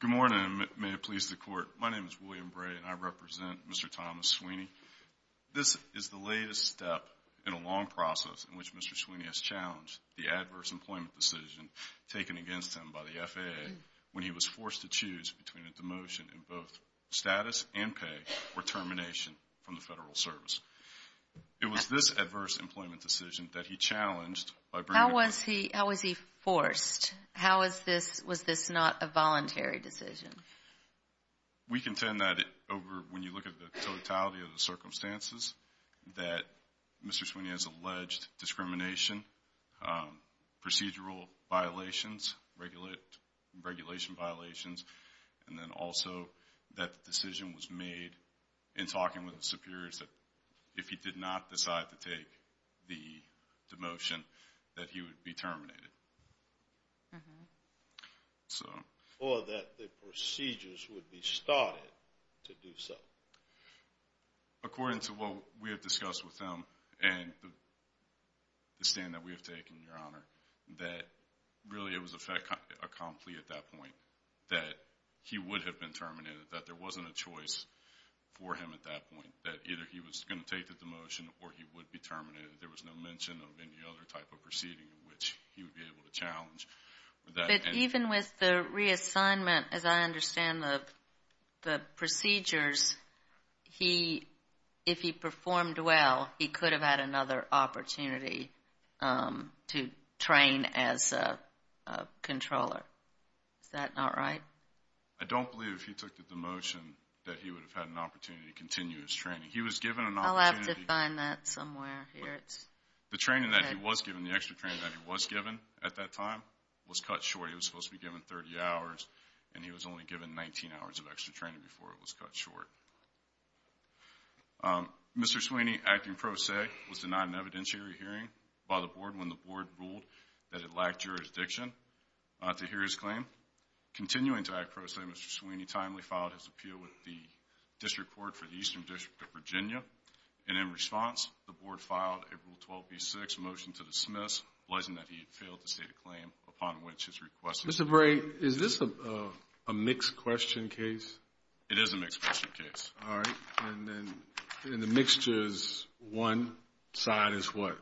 Good morning and may it please the Court. My name is William Bray and I represent Mr. Thomas Sweeney. This is the latest step in a long process in which Mr. Sweeney has challenged the adverse employment decision taken against him by the FAA when he was forced to choose between a demotion in both status and pay or termination from the Federal Service. It was this adverse employment decision that he challenged by bringing How was he forced? How was this not a voluntary decision? We contend that when you look at the totality of the circumstances that Mr. Sweeney has alleged discrimination, procedural violations, regulation violations, and then also that the decision was made in talking with the superiors that if he did not decide to take the demotion that he would be terminated. Or that the procedures would be started to do so. According to what we have discussed with him and the stand that we have taken, Your Honor, that really it was a conflict at that point that he would have been terminated, that there wasn't a choice for him at that point, that either he was going to take the demotion or he would be terminated. There was no mention of any other type of proceeding in which he would be able to challenge. But even with the reassignment, as I understand the procedures, if he performed well, he could have had another opportunity to train as a controller. Is that not right? I don't believe if he took the demotion that he would have had an opportunity to continue his training. He was given an opportunity. I'll have to find that somewhere. The training that he was given, the extra training that he was given at that time was cut short. He was supposed to be given 30 hours, and he was only given 19 hours of extra training before it was cut short. Mr. Sweeney, acting pro se, was denied an evidentiary hearing by the board when the board ruled that it lacked jurisdiction to hear his claim. Continuing to act pro se, Mr. Sweeney timely filed his appeal with the district court for the Eastern District of Virginia, and in response, the board filed a Rule 12b-6 motion to dismiss, blessing that he had failed to state a claim upon which his request was met. Mr. Bray, is this a mixed question case? It is a mixed question case. All right. And the mixture is one side is what?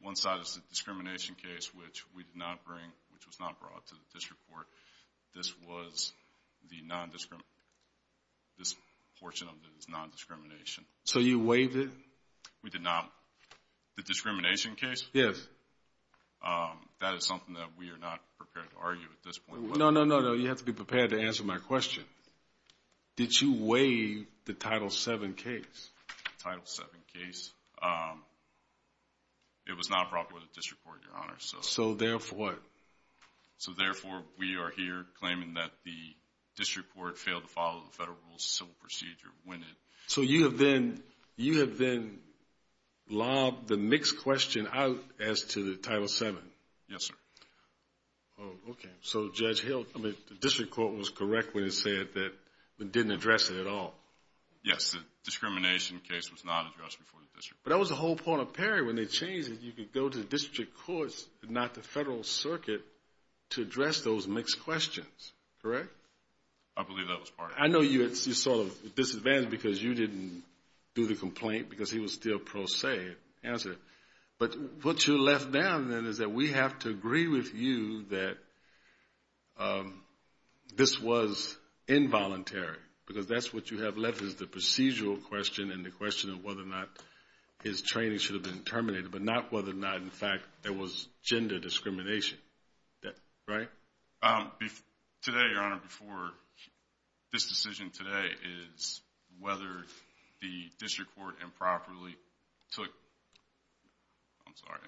One side is the discrimination case, which we did not bring, which was not brought to the district court. This was the non-discrimination. This portion of it is non-discrimination. So you waived it? We did not. The discrimination case? Yes. That is something that we are not prepared to argue at this point. No, no, no, no. You have to be prepared to answer my question. Did you waive the Title VII case? Yes, the Title VII case. It was not brought to the district court, Your Honor. So therefore what? So therefore, we are here claiming that the district court failed to follow the federal rules of civil procedure when it. So you have then lobbed the mixed question out as to the Title VII? Yes, sir. Okay. So Judge Hill, I mean, the district court was correct when it said that it didn't address it at all. Yes, the discrimination case was not addressed before the district court. But that was the whole point of Perry. When they changed it, you could go to the district courts and not the federal circuit to address those mixed questions, correct? I believe that was part of it. I know you sort of disadvantaged because you didn't do the complaint because he was still pro se answering. But what you left down then is that we have to agree with you that this was involuntary because that's what you have left is the procedural question and the question of whether or not his training should have been terminated, but not whether or not, in fact, there was gender discrimination. Right? Today, Your Honor, before this decision today is whether the district court improperly took – I'm sorry.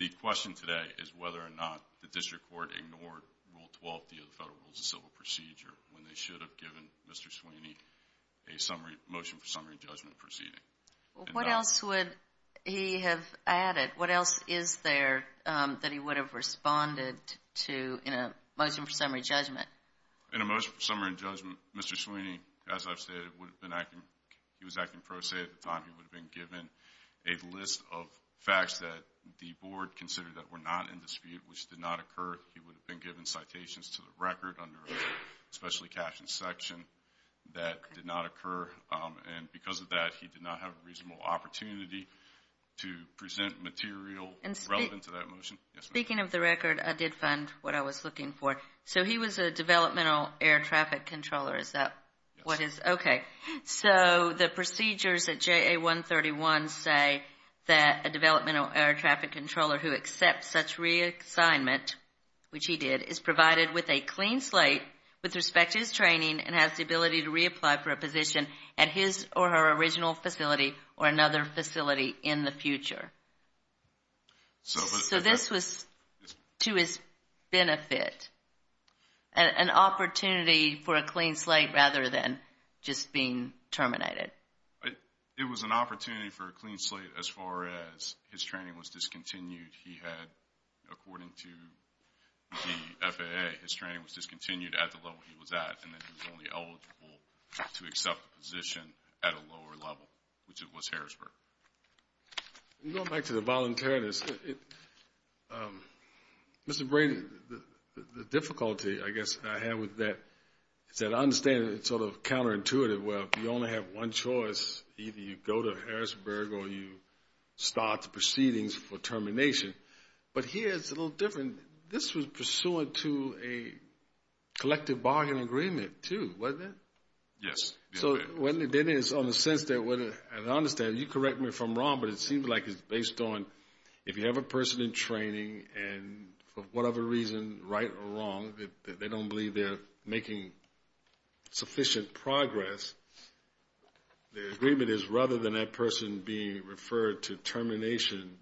The question today is whether or not the district court ignored Rule 12 of the Federal Rules of Civil Procedure when they should have given Mr. Sweeney a motion for summary judgment proceeding. What else would he have added? What else is there that he would have responded to in a motion for summary judgment? In a motion for summary judgment, Mr. Sweeney, as I've stated, he was acting pro se at the time. He would have been given a list of facts that the board considered that were not in dispute, which did not occur. He would have been given citations to the record under a specially captioned section that did not occur. And because of that, he did not have a reasonable opportunity to present material relevant to that motion. Speaking of the record, I did find what I was looking for. So he was a developmental air traffic controller. Is that what his – okay. So the procedures at JA 131 say that a developmental air traffic controller who accepts such reassignment, which he did, is provided with a clean slate with respect to his training and has the ability to reapply for a position at his or her original facility or another facility in the future. So this was to his benefit an opportunity for a clean slate rather than just being terminated. It was an opportunity for a clean slate as far as his training was discontinued. He had, according to the FAA, his training was discontinued at the level he was at and that he was only eligible to accept a position at a lower level, which it was Harrisburg. I'm going back to the voluntariness. Mr. Brady, the difficulty I guess I have with that is that I understand it's sort of counterintuitive where if you only have one choice, either you go to Harrisburg or you start the proceedings for termination. But here it's a little different. This was pursuant to a collective bargain agreement too, wasn't it? Yes. So then it's on the sense that I understand you correct me if I'm wrong, but it seems like it's based on if you have a person in training and for whatever reason, right or wrong, they don't believe they're making sufficient progress, the agreement is rather than that person being referred to termination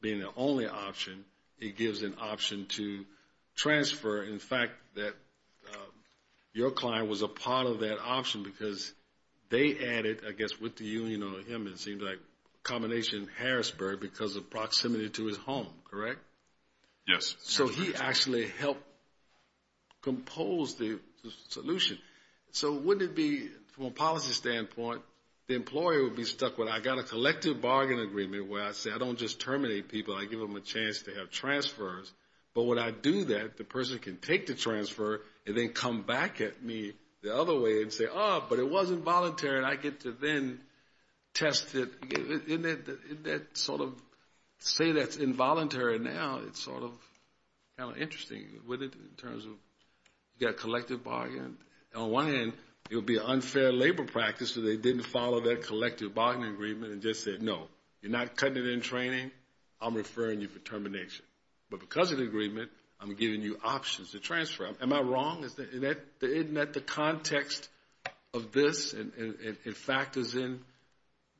being the only option, it gives an option to transfer. In fact, your client was a part of that option because they added, I guess with the union on him, it seems like a combination of Harrisburg because of proximity to his home, correct? Yes. So he actually helped compose the solution. So wouldn't it be, from a policy standpoint, the employer would be stuck with, I got a collective bargain agreement where I say I don't just terminate people, I give them a chance to have transfers. But when I do that, the person can take the transfer and then come back at me the other way and say, oh, but it wasn't voluntary, and I get to then test it. Isn't that sort of, say that's involuntary now, it's sort of kind of interesting with it in terms of you got a collective bargain. On one hand, it would be an unfair labor practice if they didn't follow that collective bargain agreement and just said, no, you're not cutting it in training, I'm referring you for termination. But because of the agreement, I'm giving you options to transfer. Am I wrong? Isn't that the context of this, in fact, as in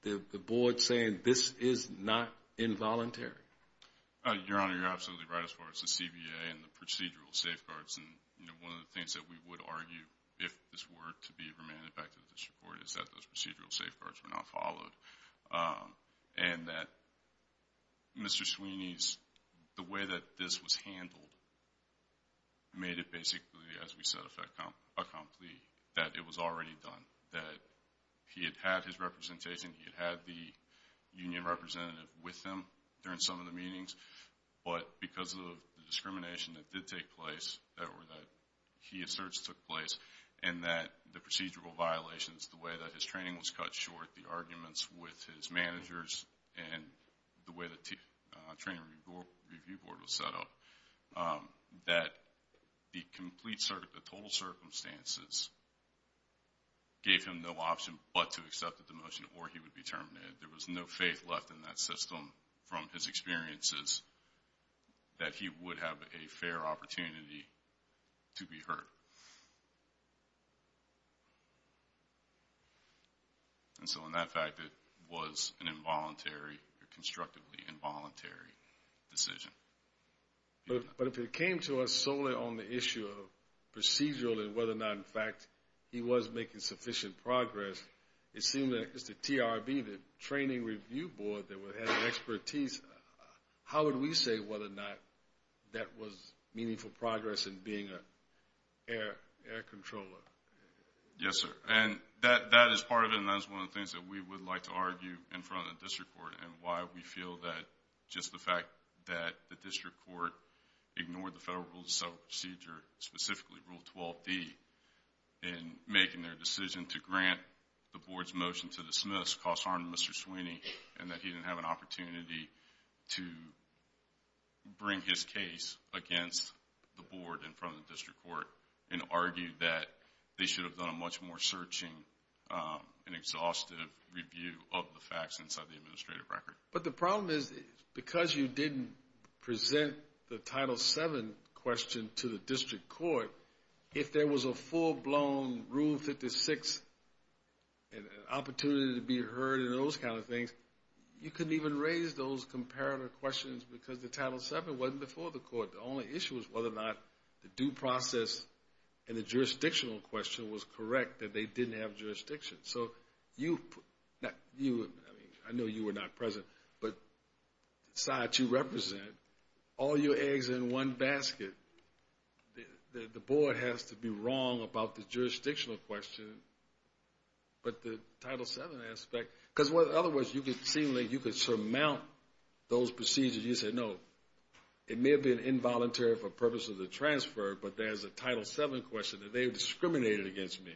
the board saying this is not involuntary? Your Honor, you're absolutely right as far as the CBA and the procedural safeguards. And one of the things that we would argue, if this were to be remanded back to the district court, is that those procedural safeguards were not followed and that Mr. Sweeney's, the way that this was handled, made it basically, as we said, a complete, that it was already done, that he had had his representation, he had had the union representative with him during some of the meetings. But because of the discrimination that did take place, that he asserts took place, and that the procedural violations, the way that his training was cut short, the arguments with his managers, and the way the training review board was set up, that the complete, the total circumstances gave him no option but to accept the demotion or he would be terminated. There was no faith left in that system from his experiences that he would have a fair opportunity to be heard. And so in that fact, it was an involuntary or constructively involuntary decision. But if it came to us solely on the issue of procedural and whether or not, in fact, he was making sufficient progress, it seemed that Mr. TRB, the training review board that had the expertise, how would we say whether or not that was meaningful progress in being an air controller? Yes, sir. And that is part of it, and that is one of the things that we would like to argue in front of the district court and why we feel that just the fact that the district court ignored the federal rule of self-procedure, specifically Rule 12D, in making their decision to grant the board's motion to dismiss, that this caused harm to Mr. Sweeney and that he didn't have an opportunity to bring his case against the board in front of the district court and argue that they should have done a much more searching and exhaustive review of the facts inside the administrative record. But the problem is because you didn't present the Title VII question to the district court, if there was a full-blown Rule 56 opportunity to be heard and those kind of things, you couldn't even raise those comparative questions because the Title VII wasn't before the court. The only issue was whether or not the due process and the jurisdictional question was correct, that they didn't have jurisdiction. So you, I know you were not present, but the side you represent, all your eggs in one basket, the board has to be wrong about the jurisdictional question, but the Title VII aspect, because otherwise you could seem like you could surmount those procedures. You said, no, it may have been involuntary for purposes of the transfer, but there's a Title VII question that they discriminated against me.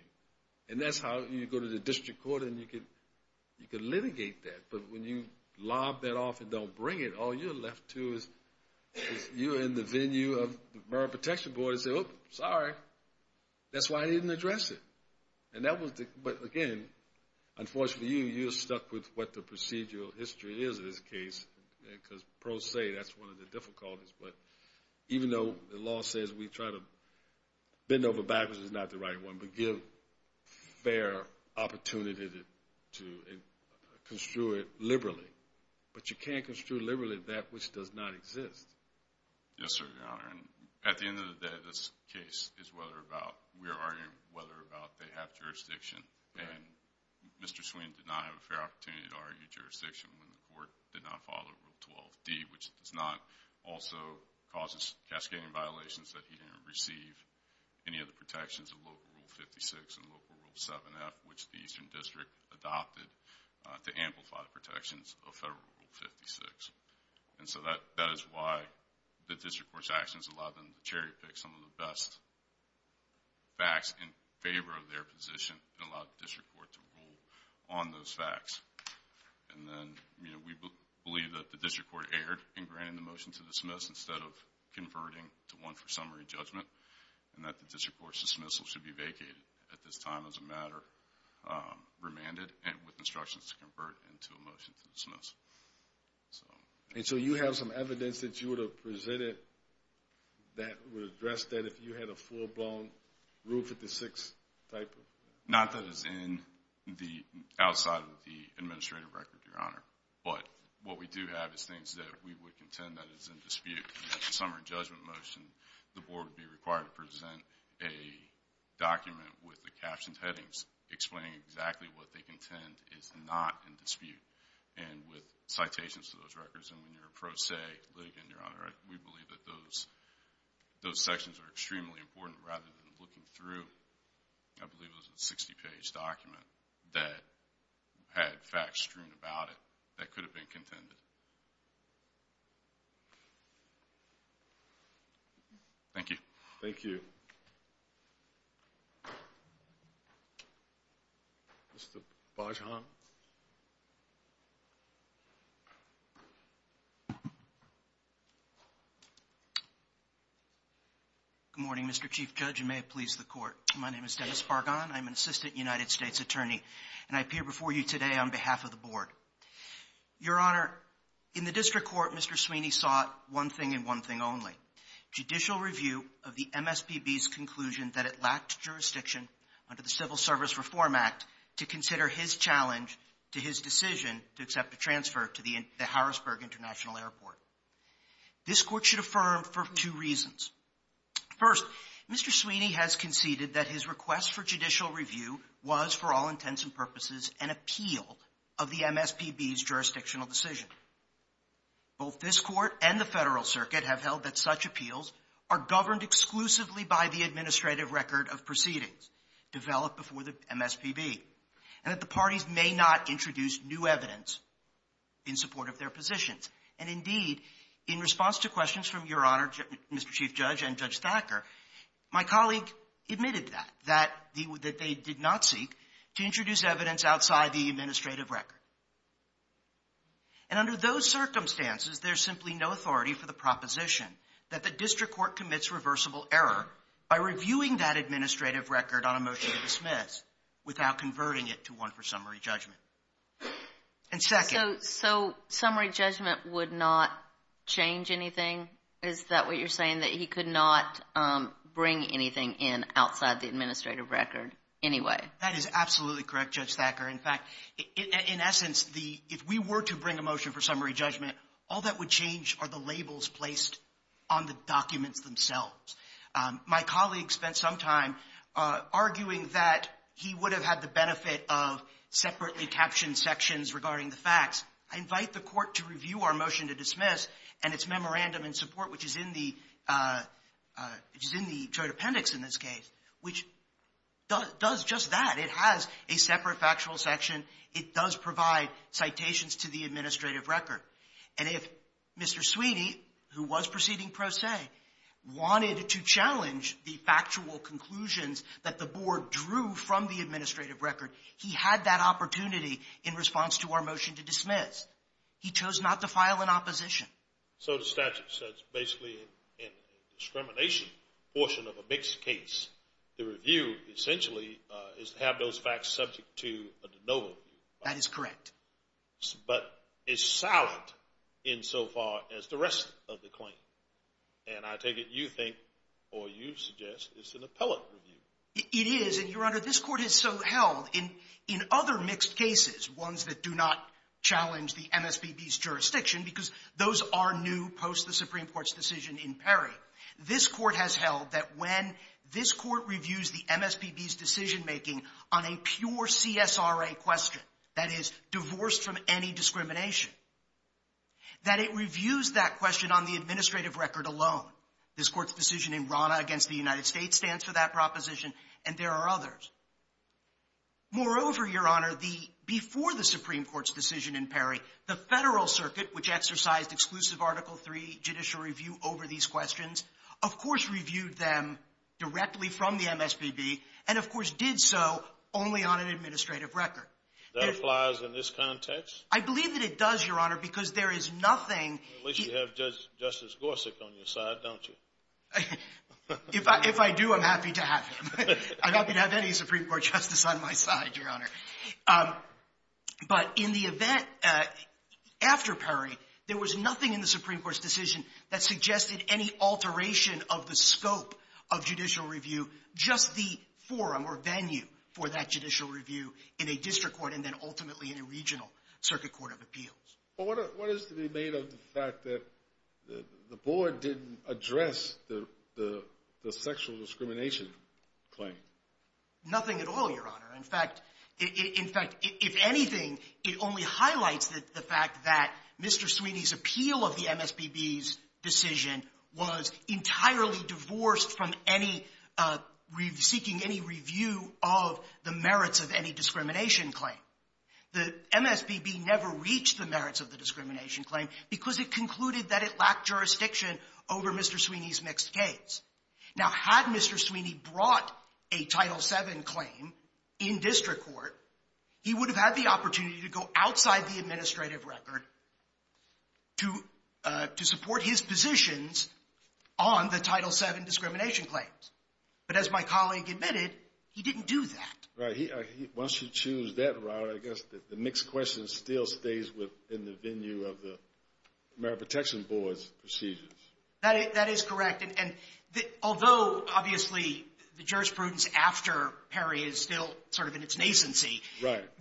And that's how you go to the district court and you can litigate that. But when you lob that off and don't bring it, all you're left to is you're in the venue of the Borough Protection Board and say, oh, sorry, that's why I didn't address it. But, again, unfortunately you, you're stuck with what the procedural history is in this case because pros say that's one of the difficulties. But even though the law says we try to bend over backwards, it's not the right one, we give fair opportunity to construe it liberally. But you can't construe liberally that which does not exist. Yes, sir, Your Honor. And at the end of the day, this case is whether or not we are arguing whether or not they have jurisdiction. And Mr. Sweeney did not have a fair opportunity to argue jurisdiction when the court did not follow Rule 12d, which does not also cause cascading violations that he didn't receive any of the protections of Local Rule 56 and Local Rule 7f, which the Eastern District adopted to amplify the protections of Federal Rule 56. And so that is why the district court's actions allowed them to cherry pick some of the best facts in favor of their position and allowed the district court to rule on those facts. And then we believe that the district court erred in granting the motion to dismiss instead of converting to one for summary judgment, and that the district court's dismissal should be vacated at this time as a matter, remanded with instructions to convert into a motion to dismiss. And so you have some evidence that you would have presented that would address that if you had a full-blown Rule 56 type of... Not that it's in the outside of the administrative record, Your Honor, but what we do have is things that we would contend that is in dispute. The summary judgment motion, the board would be required to present a document with the captioned headings explaining exactly what they contend is not in dispute and with citations to those records. And when you're a pro se litigant, Your Honor, we believe that those sections are extremely important rather than looking through, I believe it was a 60-page document that had facts strewn about it that could have been contended. Thank you. Thank you. Mr. Bajon. Good morning, Mr. Chief Judge, and may it please the court. My name is Dennis Bajon. I'm an assistant United States attorney, and I appear before you today on behalf of the board. Your Honor, in the district court, Mr. Sweeney sought one thing and one thing only, judicial review of the MSPB's conclusion that it lacked jurisdiction under the Civil Service Reform Act to consider his challenge to his decision to accept a transfer to the Harrisburg International Airport. This court should affirm for two reasons. First, Mr. Sweeney has conceded that his request for judicial review was, for all intents and purposes, an appeal of the MSPB's jurisdictional decision. Both this court and the Federal Circuit have held that such appeals are governed exclusively by the And that the parties may not introduce new evidence in support of their positions. And, indeed, in response to questions from Your Honor, Mr. Chief Judge, and Judge Thacker, my colleague admitted that, that they did not seek to introduce evidence outside the administrative record. And under those circumstances, there's simply no authority for the proposition that the district court commits irreversible error by reviewing that administrative record on a motion to dismiss without converting it to one for summary judgment. And second. So summary judgment would not change anything? Is that what you're saying, that he could not bring anything in outside the administrative record anyway? That is absolutely correct, Judge Thacker. In fact, in essence, if we were to bring a motion for summary judgment, all that would change are the labels placed on the documents themselves. My colleague spent some time arguing that he would have had the benefit of separately captioned sections regarding the facts. I invite the Court to review our motion to dismiss and its memorandum in support, which is in the Joint Appendix in this case, which does just that. It has a separate factual section. It does provide citations to the administrative record. And if Mr. Sweeney, who was proceeding pro se, wanted to challenge the factual conclusions that the Board drew from the administrative record, he had that opportunity in response to our motion to dismiss. He chose not to file an opposition. So the statute says basically in the discrimination portion of a mixed case, the review essentially is to have those facts subject to a de novo review. That is correct. But it's silent insofar as the rest of the claim. And I take it you think or you suggest it's an appellate review. It is. And, Your Honor, this Court has so held in other mixed cases, ones that do not challenge the MSBB's jurisdiction, because those are new post-the Supreme Court's decision in Perry. This Court has held that when this Court reviews the MSBB's decision-making on a pure CSRA question, that is, divorced from any discrimination, that it reviews that question on the administrative record alone. This Court's decision in RANA against the United States stands for that proposition, and there are others. Moreover, Your Honor, the — before the Supreme Court's decision in Perry, the Federal Circuit, which exercised exclusive Article III judicial review over these questions, of course reviewed them directly from the MSBB, and of course did so only on an administrative record. That applies in this context? I believe that it does, Your Honor, because there is nothing — Unless you have Justice Gorsuch on your side, don't you? If I do, I'm happy to have him. I'm happy to have any Supreme Court justice on my side, Your Honor. But in the event after Perry, there was nothing in the Supreme Court's decision that suggested any alteration of the scope of judicial review, just the forum or venue for that judicial review in a district court and then ultimately in a regional circuit court of appeals. But what is to be made of the fact that the board didn't address the sexual discrimination claim? Nothing at all, Your Honor. In fact, if anything, it only highlights the fact that Mr. Sweeney's appeal of the MSBB's decision was entirely divorced from any — seeking any review of the merits of any discrimination claim. The MSBB never reached the merits of the discrimination claim because it concluded that it lacked jurisdiction over Mr. Sweeney's mixed case. Now, had Mr. Sweeney brought a Title VII claim in district court, he would have had the opportunity to go outside the administrative record to support his positions on the Title VII discrimination claims. But as my colleague admitted, he didn't do that. Right. Once you choose that route, I guess the mixed question still stays within the venue of the Merit Protection Board's procedures. That is correct. And although, obviously, the jurisprudence after Perry is still sort of in its nascency,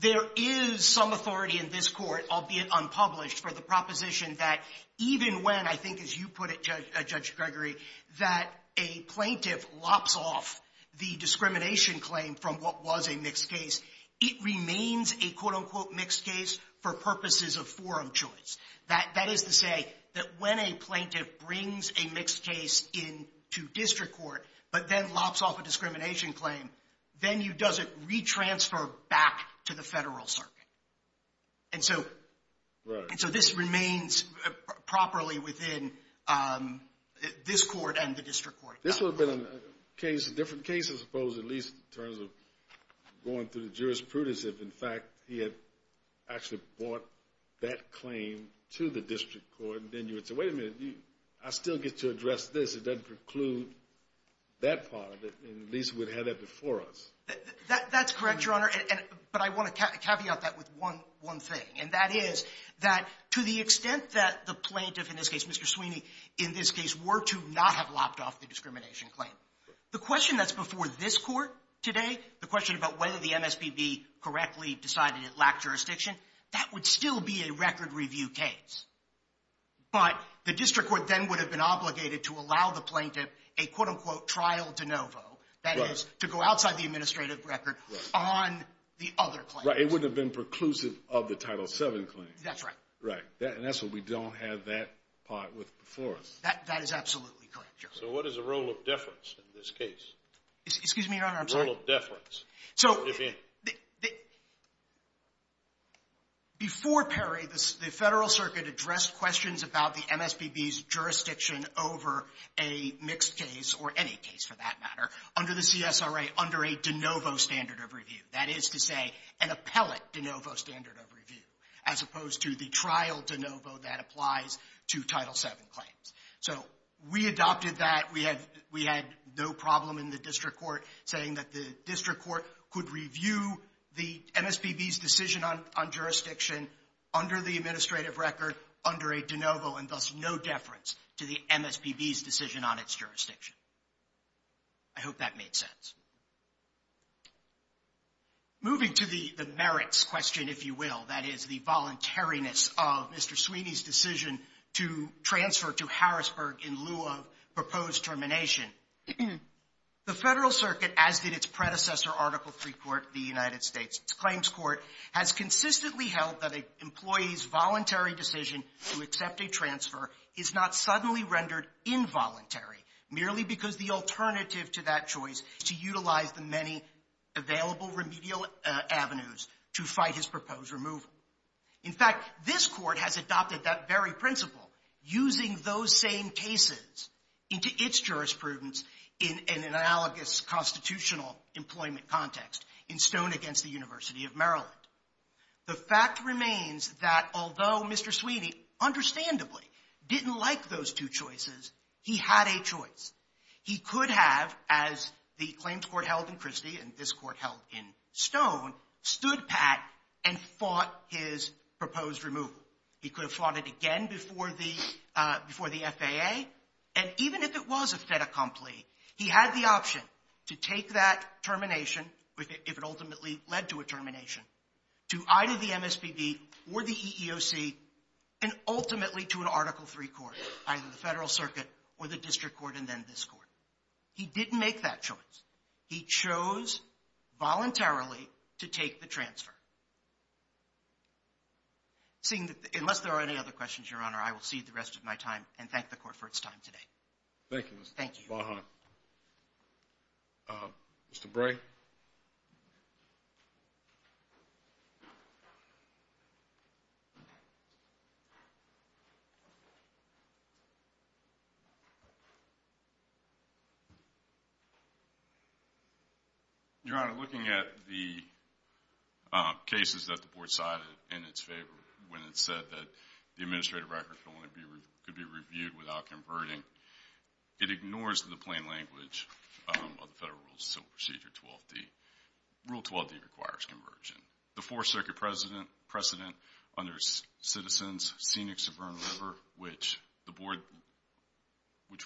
there is some authority in this Court, albeit unpublished, for the proposition that even when, I think as you put it, Judge Gregory, that a plaintiff lops off the discrimination claim from what was a mixed case, it remains a, quote, unquote, mixed case for purposes of forum choice. That is to say that when a plaintiff brings a mixed case into district court but then lops off a discrimination claim, then he doesn't re-transfer back to the Federal Circuit. And so this remains properly within this Court and the district court. This would have been a different case, I suppose, at least in terms of going through the jurisprudence if, in fact, he had actually brought that claim to the district court. And then you would say, wait a minute, I still get to address this. It doesn't preclude that part of it. And at least we'd have that before us. That's correct, Your Honor. But I want to caveat that with one thing. And that is that to the extent that the plaintiff, in this case Mr. Sweeney, in this case were to not have lopped off the discrimination claim, the question that's before this Court today, the question about whether the MSPB correctly decided it lacked jurisdiction, that would still be a record review case. But the district court then would have been obligated to allow the plaintiff a, quote-unquote, trial de novo, that is, to go outside the administrative record on the other claims. Right. It would have been preclusive of the Title VII claim. That's right. Right. And that's why we don't have that part before us. That is absolutely correct, Your Honor. So what is the role of deference in this case? Excuse me, Your Honor. I'm sorry. The role of deference. So before Perry, the Federal Circuit addressed questions about the MSPB's jurisdiction over a mixed case, or any case for that matter, under the CSRA under a de novo standard of review. That is to say, an appellate de novo standard of review, as opposed to the trial de novo that applies to Title VII claims. So we adopted that. We had no problem in the district court saying that the district court could review the MSPB's decision on jurisdiction under the administrative record under a de novo and thus no deference to the MSPB's decision on its jurisdiction. I hope that made sense. Moving to the merits question, if you will, that is, the voluntariness of Mr. Harrisburg in lieu of proposed termination. The Federal Circuit, as did its predecessor, Article III Court of the United States Claims Court, has consistently held that an employee's voluntary decision to accept a transfer is not suddenly rendered involuntary merely because the alternative to that choice is to utilize the many available remedial avenues to fight his proposed removal. In fact, this Court has adopted that very principle, using those same cases into its jurisprudence in an analogous constitutional employment context in Stone v. University of Maryland. The fact remains that although Mr. Sweeney understandably didn't like those two choices, he had a choice. He could have, as the Claims Court held in Christie and this Court held in Stone, stood pat and fought his proposed removal. He could have fought it again before the FAA. And even if it was a fait accompli, he had the option to take that termination if it ultimately led to a termination, to either the MSPB or the EEOC, and ultimately to an Article III Court, either the Federal Circuit or the District Court and then this Court. He didn't make that choice. He chose voluntarily to take the transfer. Unless there are any other questions, Your Honor, I will cede the rest of my time and thank the Court for its time today. Thank you, Mr. Baha. Thank you. Mr. Bray? Your Honor, looking at the cases that the Board cited in its favor when it said that the administrative records could only be reviewed without converting, it ignores the plain language of the Federal Rules of Procedure 12D. Rule 12D requires conversion. The Fourth Circuit precedent under Citizens, Scenic Suburban River, which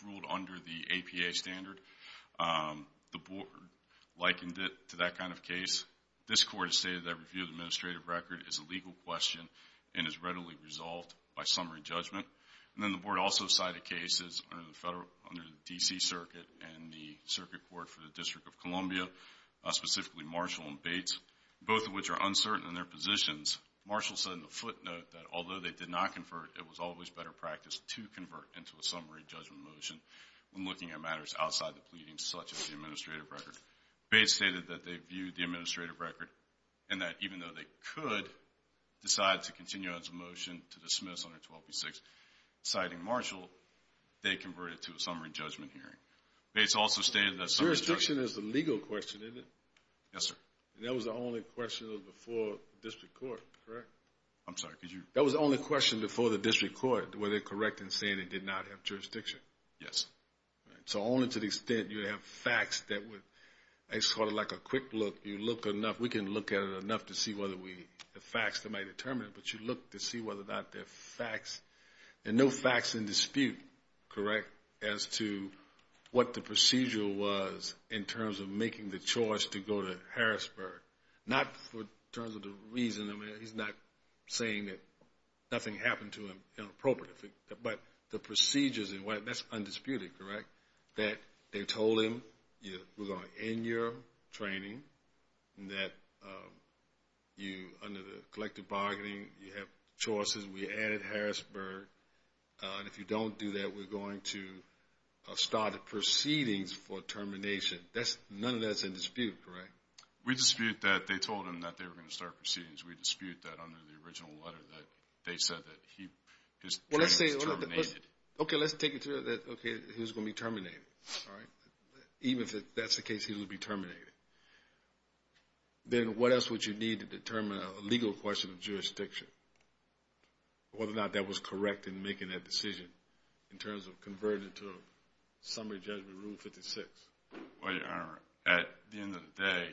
ruled under the APA standard, the Board likened it to that kind of case. This Court has stated that review of the administrative record is a legal question and is readily resolved by summary judgment. And then the Board also cited cases under the D.C. Circuit and the Circuit Court for the District of Columbia, specifically Marshall and Bates, both of which are uncertain in their positions. Marshall said in the footnote that although they did not convert, it was always better practice to convert into a summary judgment motion when looking at matters outside the pleading, such as the administrative record. Bates stated that they viewed the administrative record and that even though they could decide to continue as a motion to dismiss under 12B6, citing Marshall, they converted to a summary judgment hearing. Bates also stated that summary judgment... Jurisdiction is a legal question, isn't it? Yes, sir. And that was the only question before the District Court, correct? I'm sorry, could you... That was the only question before the District Court, were they correct in saying they did not have jurisdiction? Yes. So only to the extent you have facts that would... It's sort of like a quick look. You look enough... We can look at it enough to see whether we have facts that might determine it, but you look to see whether or not there are facts, and no facts in dispute, correct, as to what the procedure was in terms of making the choice to go to Harrisburg. Not in terms of the reason. I mean, he's not saying that nothing happened to him inappropriately, but the procedures and what... That's undisputed, correct, that they told him we're going to end your training and that you, under the collective bargaining, you have choices. We added Harrisburg, and if you don't do that, we're going to start proceedings for termination. None of that's in dispute, correct? We dispute that. They told him that they were going to start proceedings. We dispute that under the original letter that they said that his training was terminated. Okay, let's take it to that. Okay, he was going to be terminated. Even if that's the case, he would be terminated. Then what else would you need to determine a legal question of jurisdiction, whether or not that was correct in making that decision in terms of converting it to a summary judgment, Rule 56? Well, Your Honor, at the end of the day,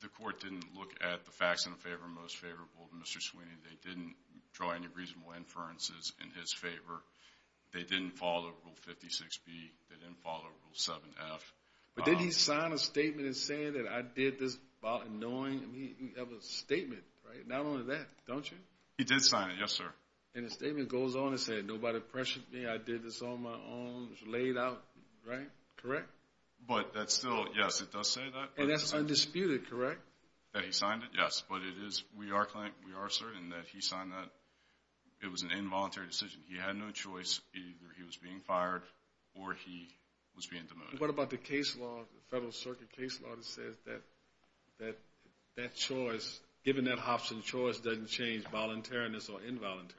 the court didn't look at the facts in favor of most favorable to Mr. Sweeney. They didn't draw any reasonable inferences in his favor. They didn't follow Rule 56B. They didn't follow Rule 7F. But didn't he sign a statement saying that I did this about annoying him? He has a statement, right? Not only that, don't you? He did sign it, yes, sir. And the statement goes on and says, I did this on my own, it was laid out, right? Correct? But that's still, yes, it does say that. And that's undisputed, correct? That he signed it, yes. But it is, we are certain that he signed that. It was an involuntary decision. He had no choice. Either he was being fired or he was being demoted. What about the case law, the Federal Circuit case law, that says that that choice, given that option, choice doesn't change voluntariness or involuntariness?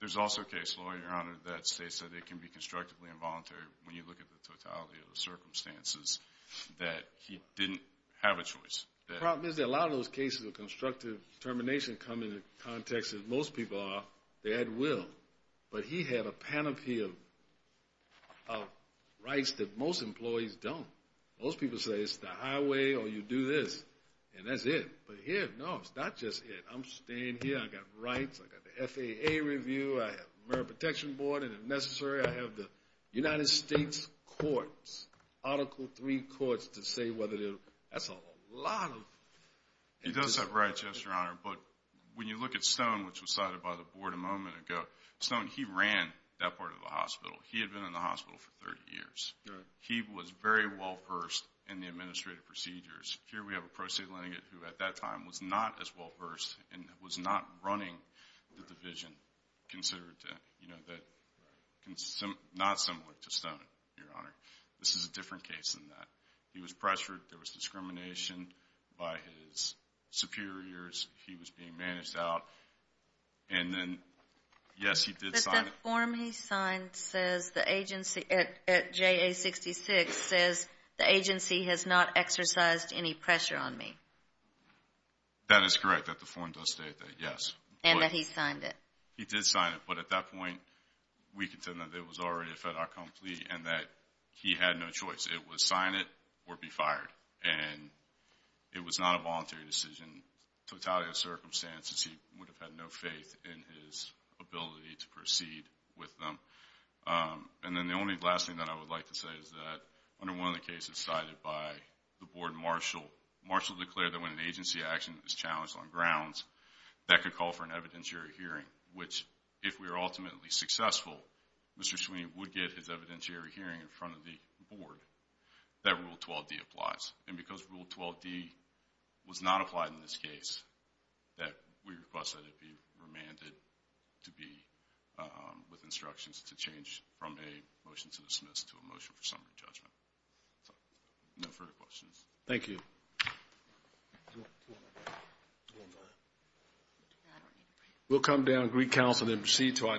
There's also a case law, Your Honor, that states that it can be constructively involuntary when you look at the totality of the circumstances, that he didn't have a choice. The problem is that a lot of those cases of constructive determination come in the context that most people are, they had will. But he had a panoply of rights that most employees don't. Most people say it's the highway or you do this, and that's it. But here, no, it's not just it. I'm staying here. I've got rights. I've got the FAA review. I have the Merit Protection Board. And if necessary, I have the United States courts, Article III courts, to say whether there's a lot of... He does have rights, yes, Your Honor. But when you look at Stone, which was cited by the board a moment ago, Stone, he ran that part of the hospital. He had been in the hospital for 30 years. He was very well-versed in the administrative procedures. Here we have a pro se lenient who, at that time, was not as well-versed and was not running the division, not similar to Stone, Your Honor. This is a different case than that. He was pressured. There was discrimination by his superiors. He was being managed out. And then, yes, he did sign... But that form he signed says the agency at JA-66 says, the agency has not exercised any pressure on me. That is correct, that the form does state that, yes. And that he signed it. He did sign it. But at that point, we contend that it was already a federal complaint and that he had no choice. It was sign it or be fired. And it was not a voluntary decision, totality of circumstances. He would have had no faith in his ability to proceed with them. And then the only last thing that I would like to say is that, under one of the cases cited by the board, Marshall, declared that when an agency action is challenged on grounds, that could call for an evidentiary hearing, which if we were ultimately successful, Mr. Sweeney would get his evidentiary hearing in front of the board, that Rule 12D applies. And because Rule 12D was not applied in this case, we request that it be remanded to be with instructions to change from a motion to dismiss to a motion for summary judgment. No further questions. Thank you. We'll come down and greet counsel and then proceed to our next case.